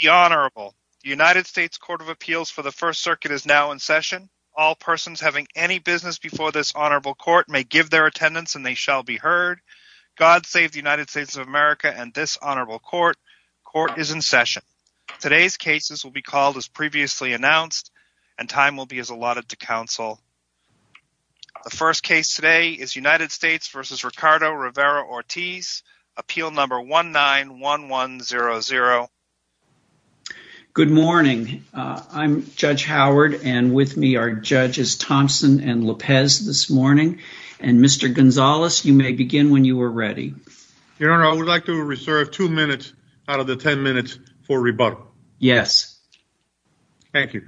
The Honorable United States Court of Appeals for the First Circuit is now in session. All persons having any business before this Honorable Court may give their attendance and they shall be heard. God save the United States of America and this Honorable Court. Court is in session. Today's cases will be called as previously announced and time will be as allotted to counsel. The first case today is United States v. Ricardo Rivera-Ortiz, appeal number 191100. Good morning. I'm Judge Howard and with me are Judges Thompson and Lopez this morning and Mr. Gonzalez you may begin when you are ready. Your Honor, I would like to reserve two minutes out of the ten minutes for rebuttal. Yes. Thank you.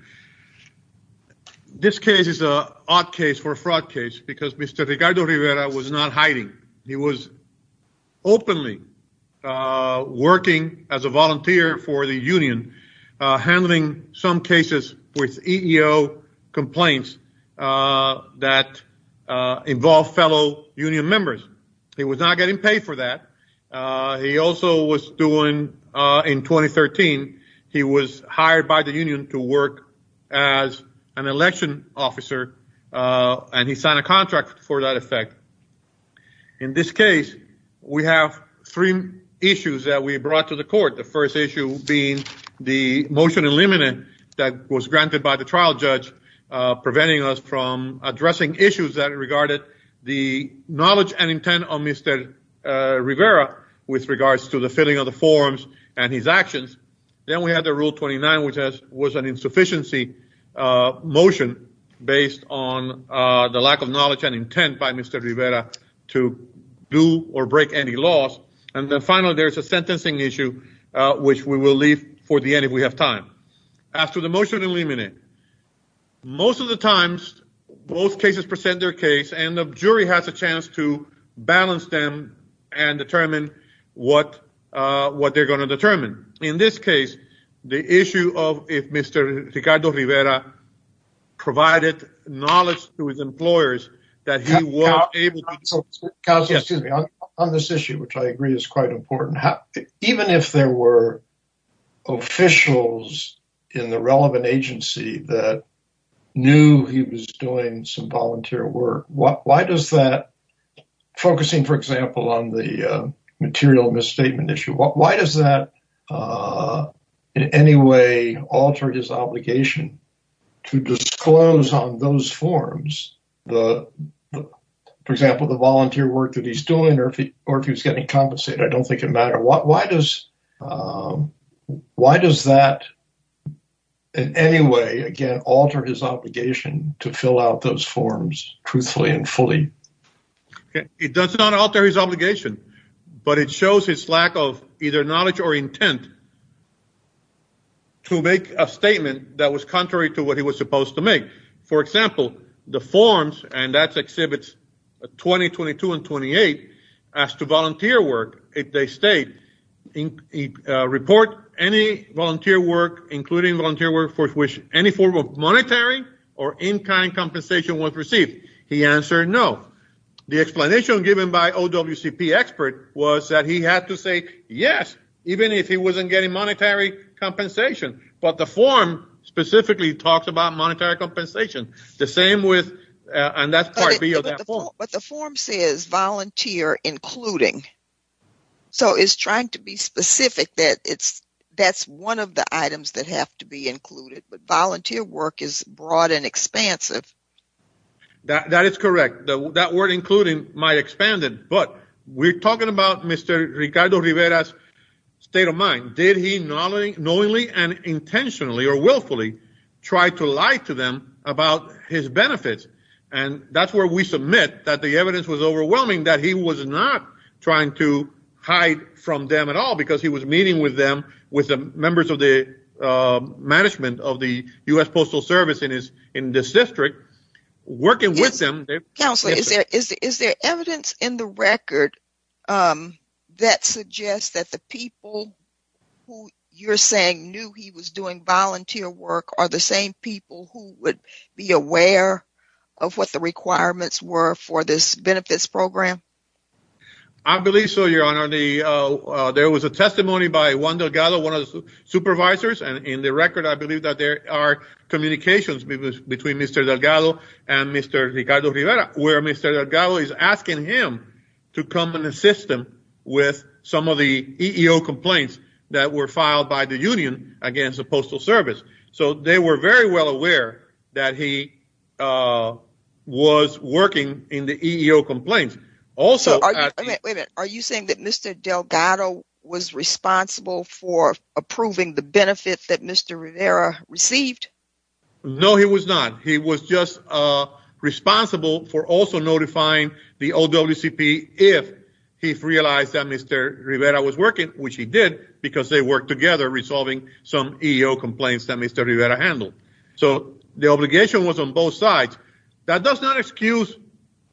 This case is a odd case for a fraud case because Mr. Ricardo Rivera was not hiding. He was openly working as a volunteer for the Union handling some cases with EEO complaints that involved fellow Union members. He was not getting paid for that. He also was doing in 2013 he was hired by the Union to work as a an election officer and he signed a contract for that effect. In this case we have three issues that we brought to the court. The first issue being the motion in limine that was granted by the trial judge preventing us from addressing issues that regarded the knowledge and intent of Mr. Rivera with regards to the filling of the forms and his actions. Then we had the rule 29 which has was an insufficiency motion based on the lack of knowledge and intent by Mr. Rivera to do or break any laws and then finally there's a sentencing issue which we will leave for the end if we have time. As to the motion in limine, most of the times both cases present their case and the jury has a chance to balance them and determine what what they're going to determine. In this case the issue of if Mr. Ricardo Rivera provided knowledge to his employers that he was able to... Counselor, excuse me, on this issue which I agree is quite important, even if there were officials in the relevant agency that knew he was doing some volunteer work what why does that, focusing for example on the material misstatement issue, what does that in any way again alter his obligation to disclose on those forms, for example the volunteer work that he's doing or if he's getting compensated? I don't think it matters. Why does why does that in any way again alter his obligation to fill out those forms truthfully and fully? It does not alter his obligation but it that was contrary to what he was supposed to make. For example the forms and that's exhibits 20, 22, and 28 as to volunteer work if they state, report any volunteer work including volunteer work for which any form of monetary or in-kind compensation was received. He answered no. The explanation given by OWCP expert was that he had to say yes even if he wasn't getting monetary compensation but the form specifically talks about monetary compensation the same with and that's part B of that form. But the form says volunteer including so it's trying to be specific that it's that's one of the items that have to be included but volunteer work is broad and expansive. That is correct. That word including might expand it but we're talking about Mr. Ricardo Rivera's state of mind. Did knowingly and intentionally or willfully try to lie to them about his benefits and that's where we submit that the evidence was overwhelming that he was not trying to hide from them at all because he was meeting with them with the members of the management of the US Postal Service in this district working with them. Counselor is there is there evidence in the record that suggests that the people who you're saying knew he was doing volunteer work are the same people who would be aware of what the requirements were for this benefits program? I believe so your honor. There was a testimony by one Delgado one of the supervisors and in the record I believe that there are communications between Mr. Delgado and Mr. Ricardo Rivera where Mr. Delgado is asking him to come in the system with some of the EEO complaints that were filed by the Union against the Postal Service so they were very well aware that he was working in the EEO complaints. Also are you saying that Mr. Delgado was responsible for approving the benefits that Mr. Rivera received? No he was not. He was just responsible for also notifying the OWCP if he realized that Mr. Rivera was working which he did because they worked together resolving some EEO complaints that Mr. Rivera handled. So the obligation was on both sides. That does not excuse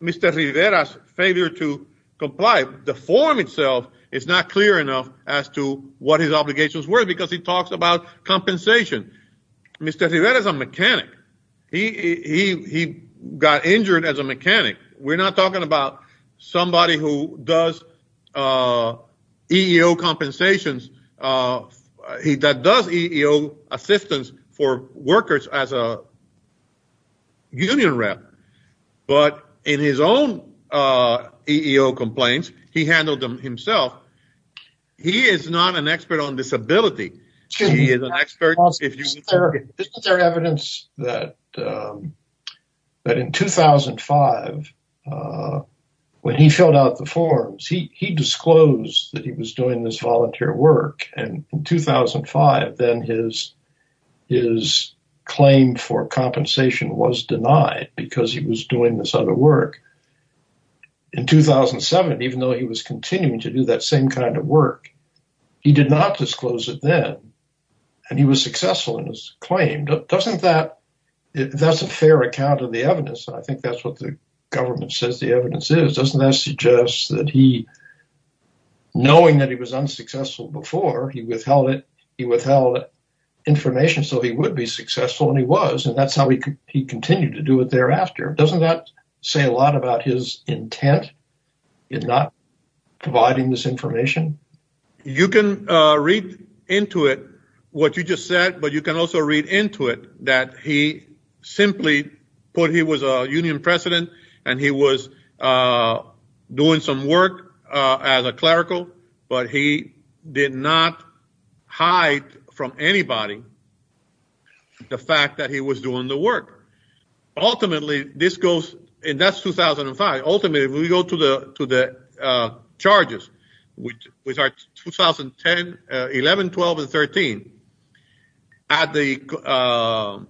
Mr. Rivera's failure to comply. The form itself is not clear enough as to what his obligations were because he talks about he got injured as a mechanic. We're not talking about somebody who does EEO compensations. He does EEO assistance for workers as a union rep but in his own EEO complaints he handled them himself. He is not an expert on disability. He is but in 2005 when he filled out the forms he disclosed that he was doing this volunteer work and in 2005 then his claim for compensation was denied because he was doing this other work. In 2007 even though he was continuing to do that same kind of work he did not disclose it then and he was successful in his claim. Doesn't that, that's a fair account of the evidence. I think that's what the government says the evidence is. Doesn't that suggest that he knowing that he was unsuccessful before he withheld it he withheld information so he would be successful and he was and that's how he could he continued to do it thereafter. Doesn't that say a lot about his intent in not providing this information? You can read into it what you just said but you can also read into it that he simply put he was a union president and he was doing some work as a clerical but he did not hide from anybody the fact that he was doing the work. Ultimately this goes and that's 2005 ultimately we go to the to the charges which was our 2010 11 12 and 13 at the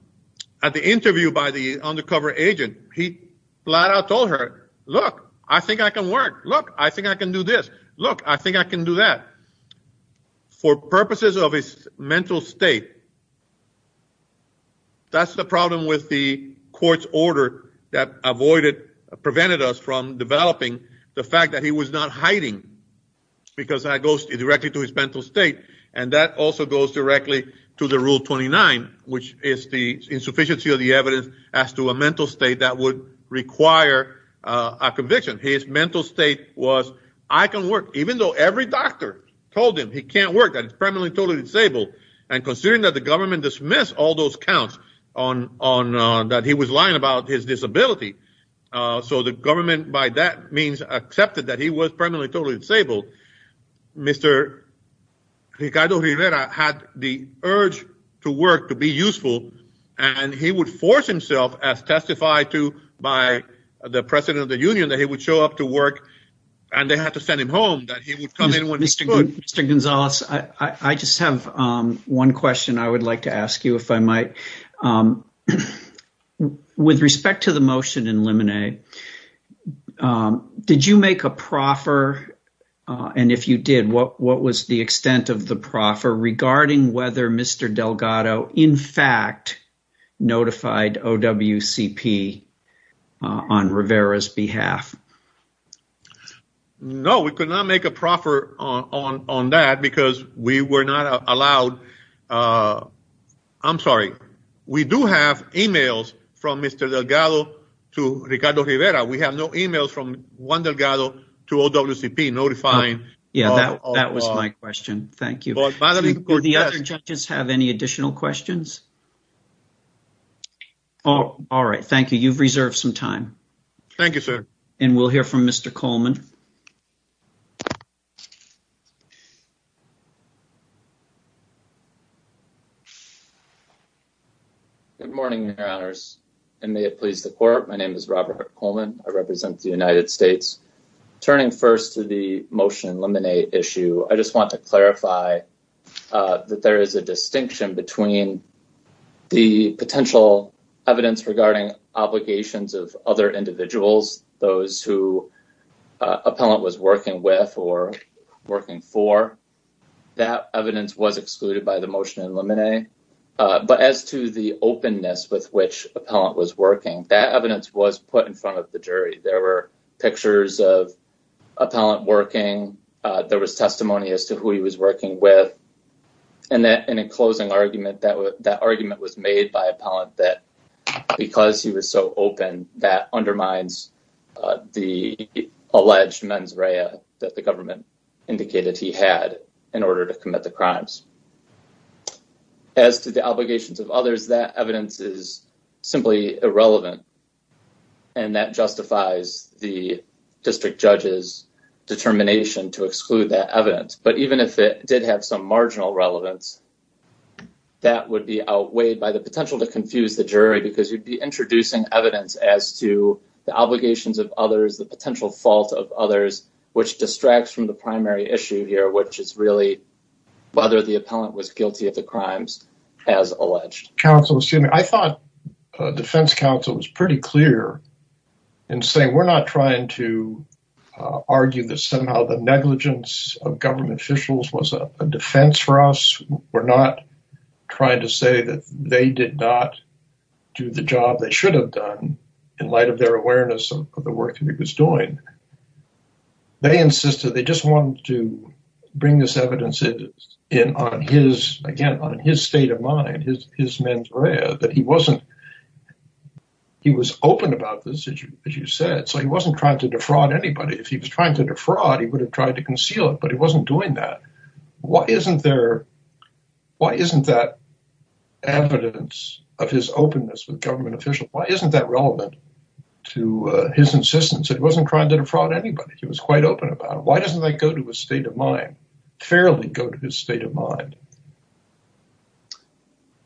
at the interview by the undercover agent he flat-out told her look I think I can work look I think I can do this look I think I can do that for purposes of his mental state that's the problem with the court's order that avoided prevented us from developing the fact that he was not hiding because that goes directly to his mental state and that also goes directly to the rule 29 which is the insufficiency of the evidence as to a mental state that would require a conviction his mental state was I can work even though every doctor told him he can't work and it's permanently totally disabled and considering that the government dismissed all those counts on that he was lying about his disability so the government by that means accepted that he was permanently totally disabled mr. Ricardo Rivera had the urge to work to be useful and he would force himself as testified to by the president of the Union that he would show up to work and they had to send him home that he would come in with mr. good mr. Gonzalez I just have one question I would like to ask you if I with respect to the motion in lemonade did you make a proffer and if you did what what was the extent of the proffer regarding whether mr. Delgado in fact notified OWCP on Rivera's behalf no we could not make a proffer on on that because we were not allowed I'm sorry we do have emails from mr. Delgado to Ricardo Rivera we have no emails from Juan Delgado to OWCP notifying yeah that was my question thank you the other judges have any additional questions oh all right thank you you've reserved some time thank you sir and we'll hear from mr. Coleman good morning your honors and may it please the court my name is Robert Coleman I represent the United States turning first to the motion eliminate issue I just want to clarify that there is a distinction between the appellant was working with or working for that evidence was excluded by the motion in lemonade but as to the openness with which appellant was working that evidence was put in front of the jury there were pictures of a palette working there was testimony as to who he was working with and that in a closing argument that would that argument was made by a palette that because he was so open that undermines the alleged mens rea that the government indicated he had in order to commit the crimes as to the obligations of others that evidence is simply irrelevant and that justifies the district judges determination to exclude that evidence but even if it did have some marginal relevance that would be outweighed by the potential to confuse the jury because you'd be introducing evidence as to the obligations of others the potential fault of others which distracts from the primary issue here which is really whether the appellant was guilty of the crimes as alleged counsel assuming I thought defense counsel was pretty clear and saying we're not trying to argue that somehow the negligence of government officials was a defense for us we're not trying to say that they did not do the job they should have done in light of their awareness of the work that he was doing they insisted they just wanted to bring this evidence in on his again on his state of mind his his mens rea that he wasn't he was open about this issue as you said so he wasn't trying to defraud anybody if he was trying to defraud he would have tried to conceal it but it wasn't doing that what isn't there why isn't that evidence of his openness with government officials why isn't that relevant to his insistence it wasn't trying to defraud anybody he was quite open about why doesn't that go to a state of mind fairly go to his state of mind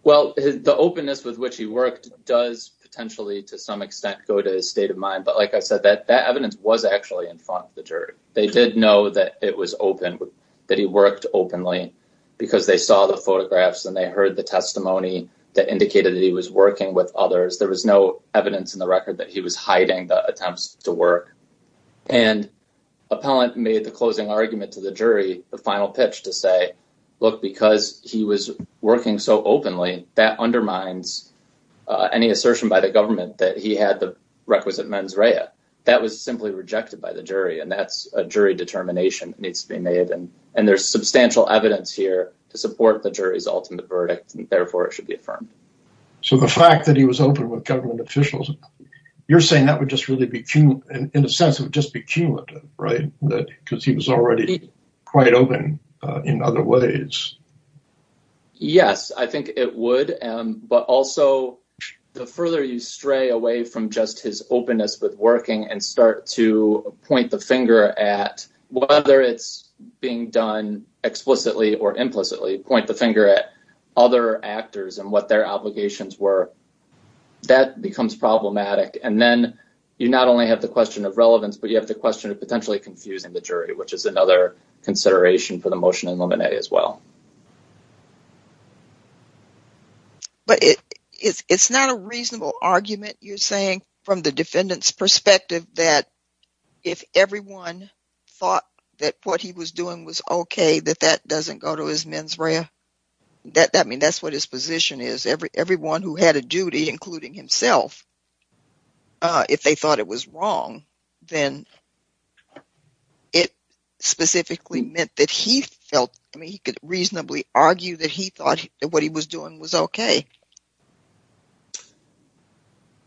well the openness with which he worked does potentially to some extent go to a state of mind but like I said that that evidence was actually in front of the jury they did know that it was open that he worked openly because they saw the photographs and they heard the testimony that indicated that he was working with others there was no evidence in the record that he was hiding the attempts to work and appellant made the closing argument to the jury the final pitch to say look because he was working so openly that undermines any assertion by the government that he had the requisite mens rea that was simply rejected by the jury and that's a jury determination needs to be made and and there's substantial evidence here to support the jury's ultimate verdict and therefore it should be affirmed so the fact that he was open with government officials you're saying that would just really be cute and in a sense of just be cute right that because he was already quite open in other ways yes I think it would but also the further you stray away from just his openness with working and start to point the finger at whether it's being done explicitly or implicitly point the finger at other actors and what their obligations were that becomes problematic and then you not only have the question of relevance but you have the question of potentially confusing the jury which is another consideration for the motion and lemonade as well but it's not a reasonable argument you're saying from the defendants perspective that if everyone thought that what he was doing was okay that that doesn't go to his mens rea that I mean that's what his position is every everyone who had a duty including himself if they thought it was wrong then it specifically meant that he felt I mean he could reasonably argue that he thought that what he was doing was okay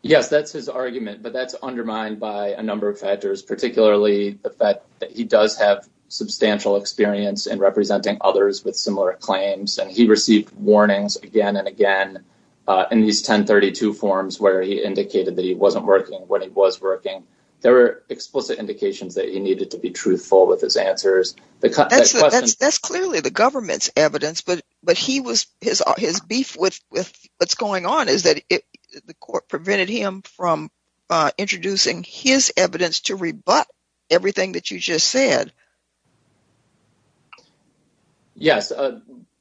yes that's his argument but that's undermined by a number of factors particularly the fact that he does have substantial experience in representing others with similar claims and he received warnings again and again in these 1032 forms where he indicated that he wasn't working when he was working there were explicit indications that he needed to be truthful with his answers because that's clearly the government's evidence but but he was his beef with what's going on is that the court prevented him from introducing his evidence to rebut everything that you just said yes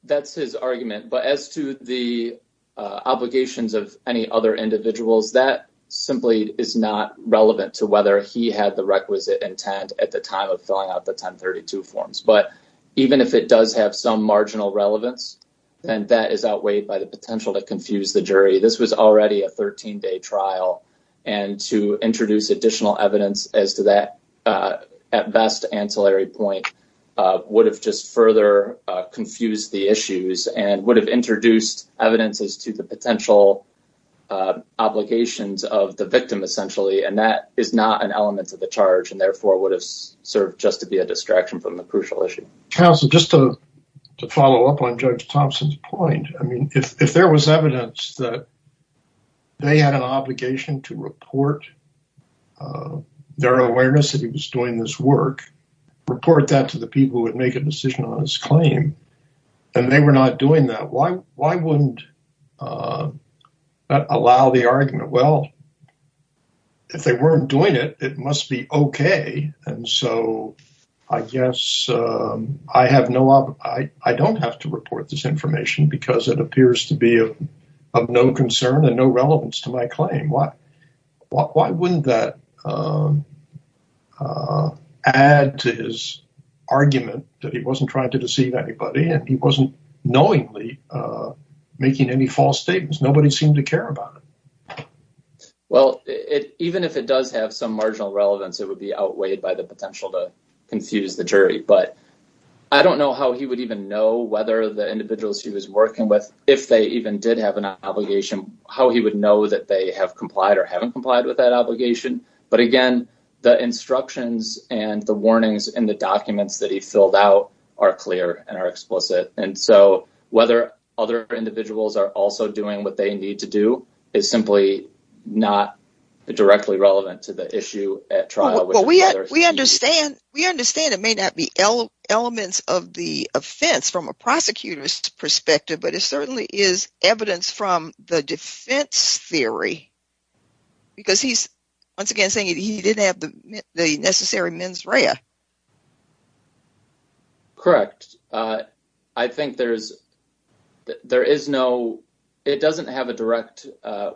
that's his argument but as to the obligations of any other individuals that simply is not relevant to whether he had the requisite intent at the time of filling out the 1032 forms but even if it does have some marginal relevance and that is outweighed by the potential to confuse the jury this was already a 13-day trial and to introduce additional evidence as to that at best ancillary point would have just further confused the issues and would have introduced evidences to the potential obligations of the victim essentially and that is not an element of the charge and therefore would have served just to be a distraction from the crucial issue just to follow up on judge Thompson's point I mean if there was evidence that they had an obligation to report their awareness that he was doing this work report that to the people who would make a decision on his claim and they were not doing that why why wouldn't allow the argument well if they weren't doing it it must be okay and so I guess I have no I don't have to report this information because it appears to be of no concern and no relevance to my claim what why wouldn't that add to his argument that he wasn't trying to deceive anybody and he wasn't knowingly making any false statements nobody seemed to care about well it even if it does have some marginal relevance it would be outweighed by the potential to confuse the jury but I don't know how he would even know whether the individuals he was working with if they even did have an obligation how he would know that they have complied or haven't complied with that obligation but again the instructions and the warnings and the documents that he filled out are clear and are explicit and so whether other individuals are also doing what they need to do is simply not directly relevant to the issue at trial well we understand we understand it may not be elements of the offense from a prosecutor's perspective but it certainly is evidence from the defense theory because he's once again saying he didn't have the necessary mens rea correct I think there's there is no it doesn't have a direct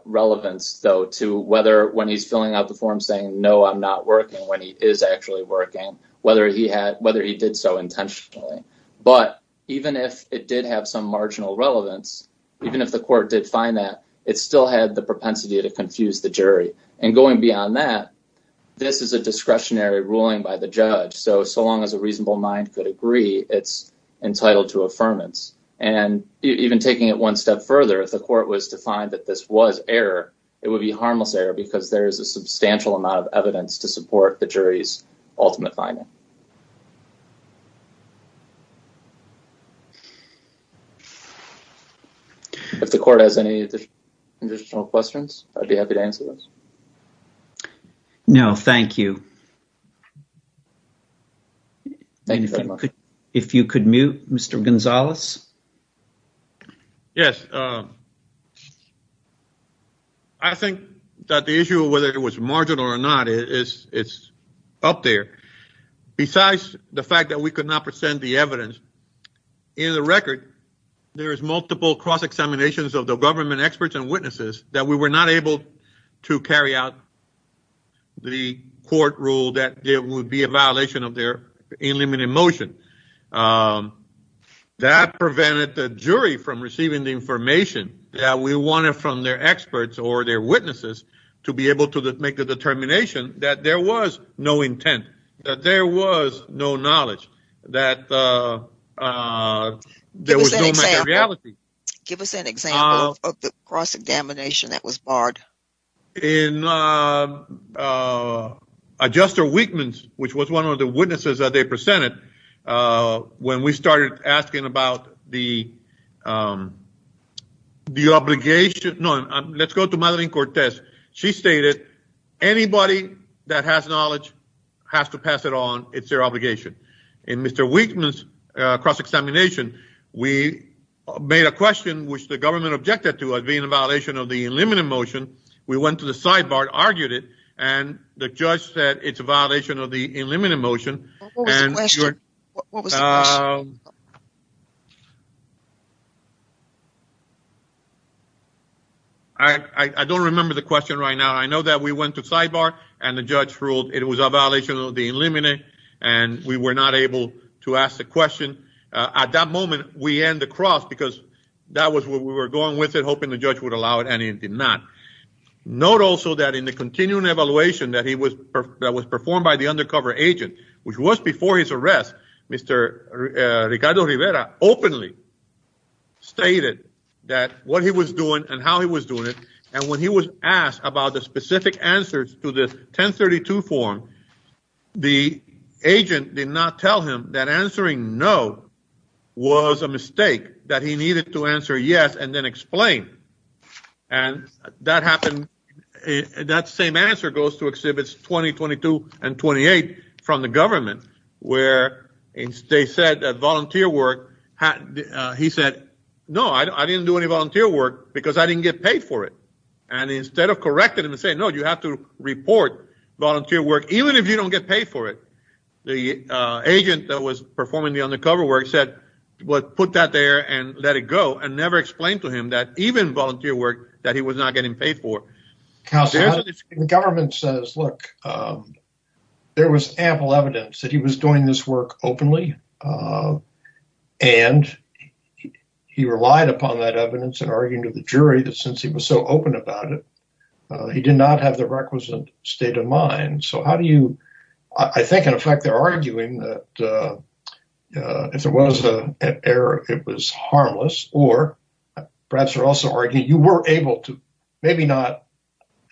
relevance though to whether when he's filling out the form saying no I'm not working when he is actually working whether he had whether he did so intentionally but even if it did have some marginal relevance even if the court did find that it still had the on that this is a discretionary ruling by the judge so so long as a reasonable mind could agree it's entitled to affirmance and even taking it one step further if the court was to find that this was error it would be harmless error because there is a substantial amount of evidence to support the jury's no thank you thank you if you could mute mr. Gonzalez yes I think that the issue whether it was marginal or not is it's up there besides the fact that we could not present the evidence in the record there is multiple cross examinations of the government experts and witnesses that we were not able to carry out the court rule that there would be a violation of their in limited motion that prevented the jury from receiving the information that we wanted from their experts or their witnesses to be able to make the determination that there was no intent that there was no knowledge that give us an example of the cross-examination that was barred in adjuster weakens which was one of the witnesses that they presented when we started asking about the the obligation no let's go to Madeline Cortez she stated anybody that has knowledge has to pass it on it's their obligation in mr. weakens cross-examination we made a violation of the limited motion we went to the sidebar argued it and the judge said it's a violation of the limited motion I don't remember the question right now I know that we went to sidebar and the judge ruled it was a violation of the limited and we were not able to ask the question at that moment we end the cross because that was what we were going with it hoping the judge would allow it and he did not note also that in the continuing evaluation that he was that was performed by the undercover agent which was before his arrest mr. Ricardo Rivera openly stated that what he was doing and how he was doing it and when he was asked about the specific answers to this 1032 form the agent did not tell him that answering no was a mistake that he needed to answer yes and then explain and that happened that same answer goes to exhibits 2022 and 28 from the government where in state said that volunteer work had he said no I didn't do any volunteer work because I didn't get paid for it and instead of corrected him and say no you have to report volunteer work even if you don't get paid for it the agent that was performing the undercover work said what put that there and let it go and never explained to him that even volunteer work that he was not getting paid for the government says look there was ample evidence that he was doing this work openly and he relied upon that evidence and arguing to the jury that since he was so open about it he did not have the requisite state in mind so how do you I think in effect they're arguing that if there was a error it was harmless or perhaps are also arguing you were able to maybe not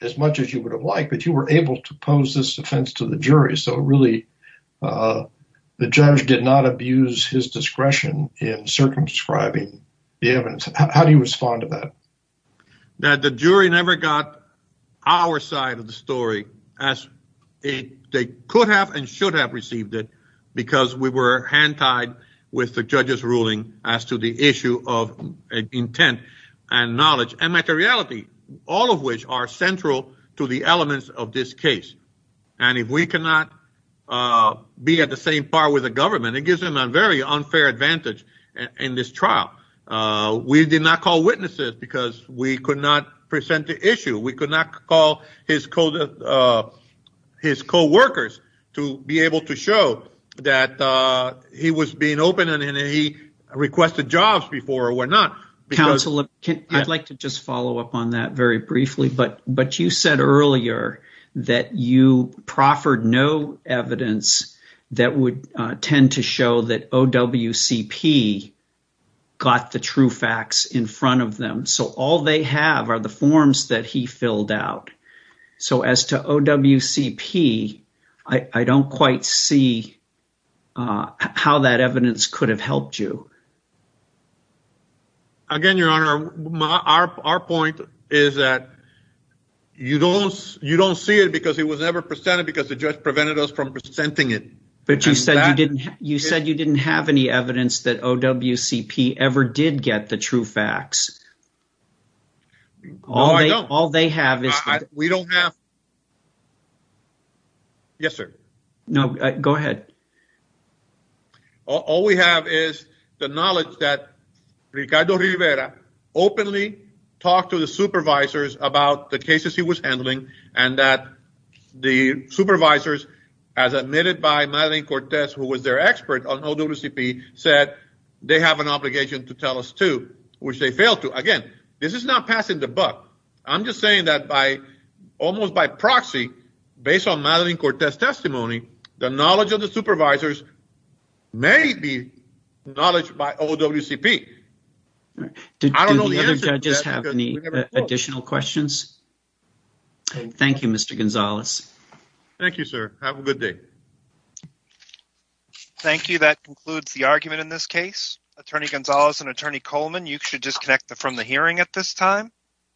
as much as you would have liked but you were able to pose this offense to the jury so really the judge did not abuse his discretion in circumscribing the evidence how do you respond to that that the jury never got our side of the story as a they could have and should have received it because we were hand-tied with the judges ruling as to the issue of intent and knowledge and materiality all of which are central to the elements of this case and if we cannot be at the same bar with the government it gives him a very unfair advantage in this trial we did not call witnesses because we could not present the issue we could not call his code of his co-workers to be able to show that he was being open and he requested jobs before or we're not council if I'd like to just follow up on that very briefly but but you said earlier that you proffered no evidence that would tend to show that OWCP got the true facts in front of them so all they have are the forms that he filled out so as to OWCP I don't quite see how that evidence could have helped you again your honor my our point is that you don't you don't see it because it was never presented because the judge prevented us from presenting it but you said I didn't you said you didn't have any evidence that OWCP ever did get the true facts all I know all they have is we don't have yes sir no go ahead all we have is the knowledge that Ricardo Rivera openly talked to the supervisors about the cases he was handling and that the said they have an obligation to tell us to which they failed to again this is not passing the buck I'm just saying that by almost by proxy based on Madeline Cortez testimony the knowledge of the supervisors may be knowledge by OWCP I don't know the other judges have any additional questions Thank You mr. Gonzalez thank you sir have a good day thank you that concludes the argument in this case attorney Gonzalez and attorney Coleman you should disconnect the from the hearing at this time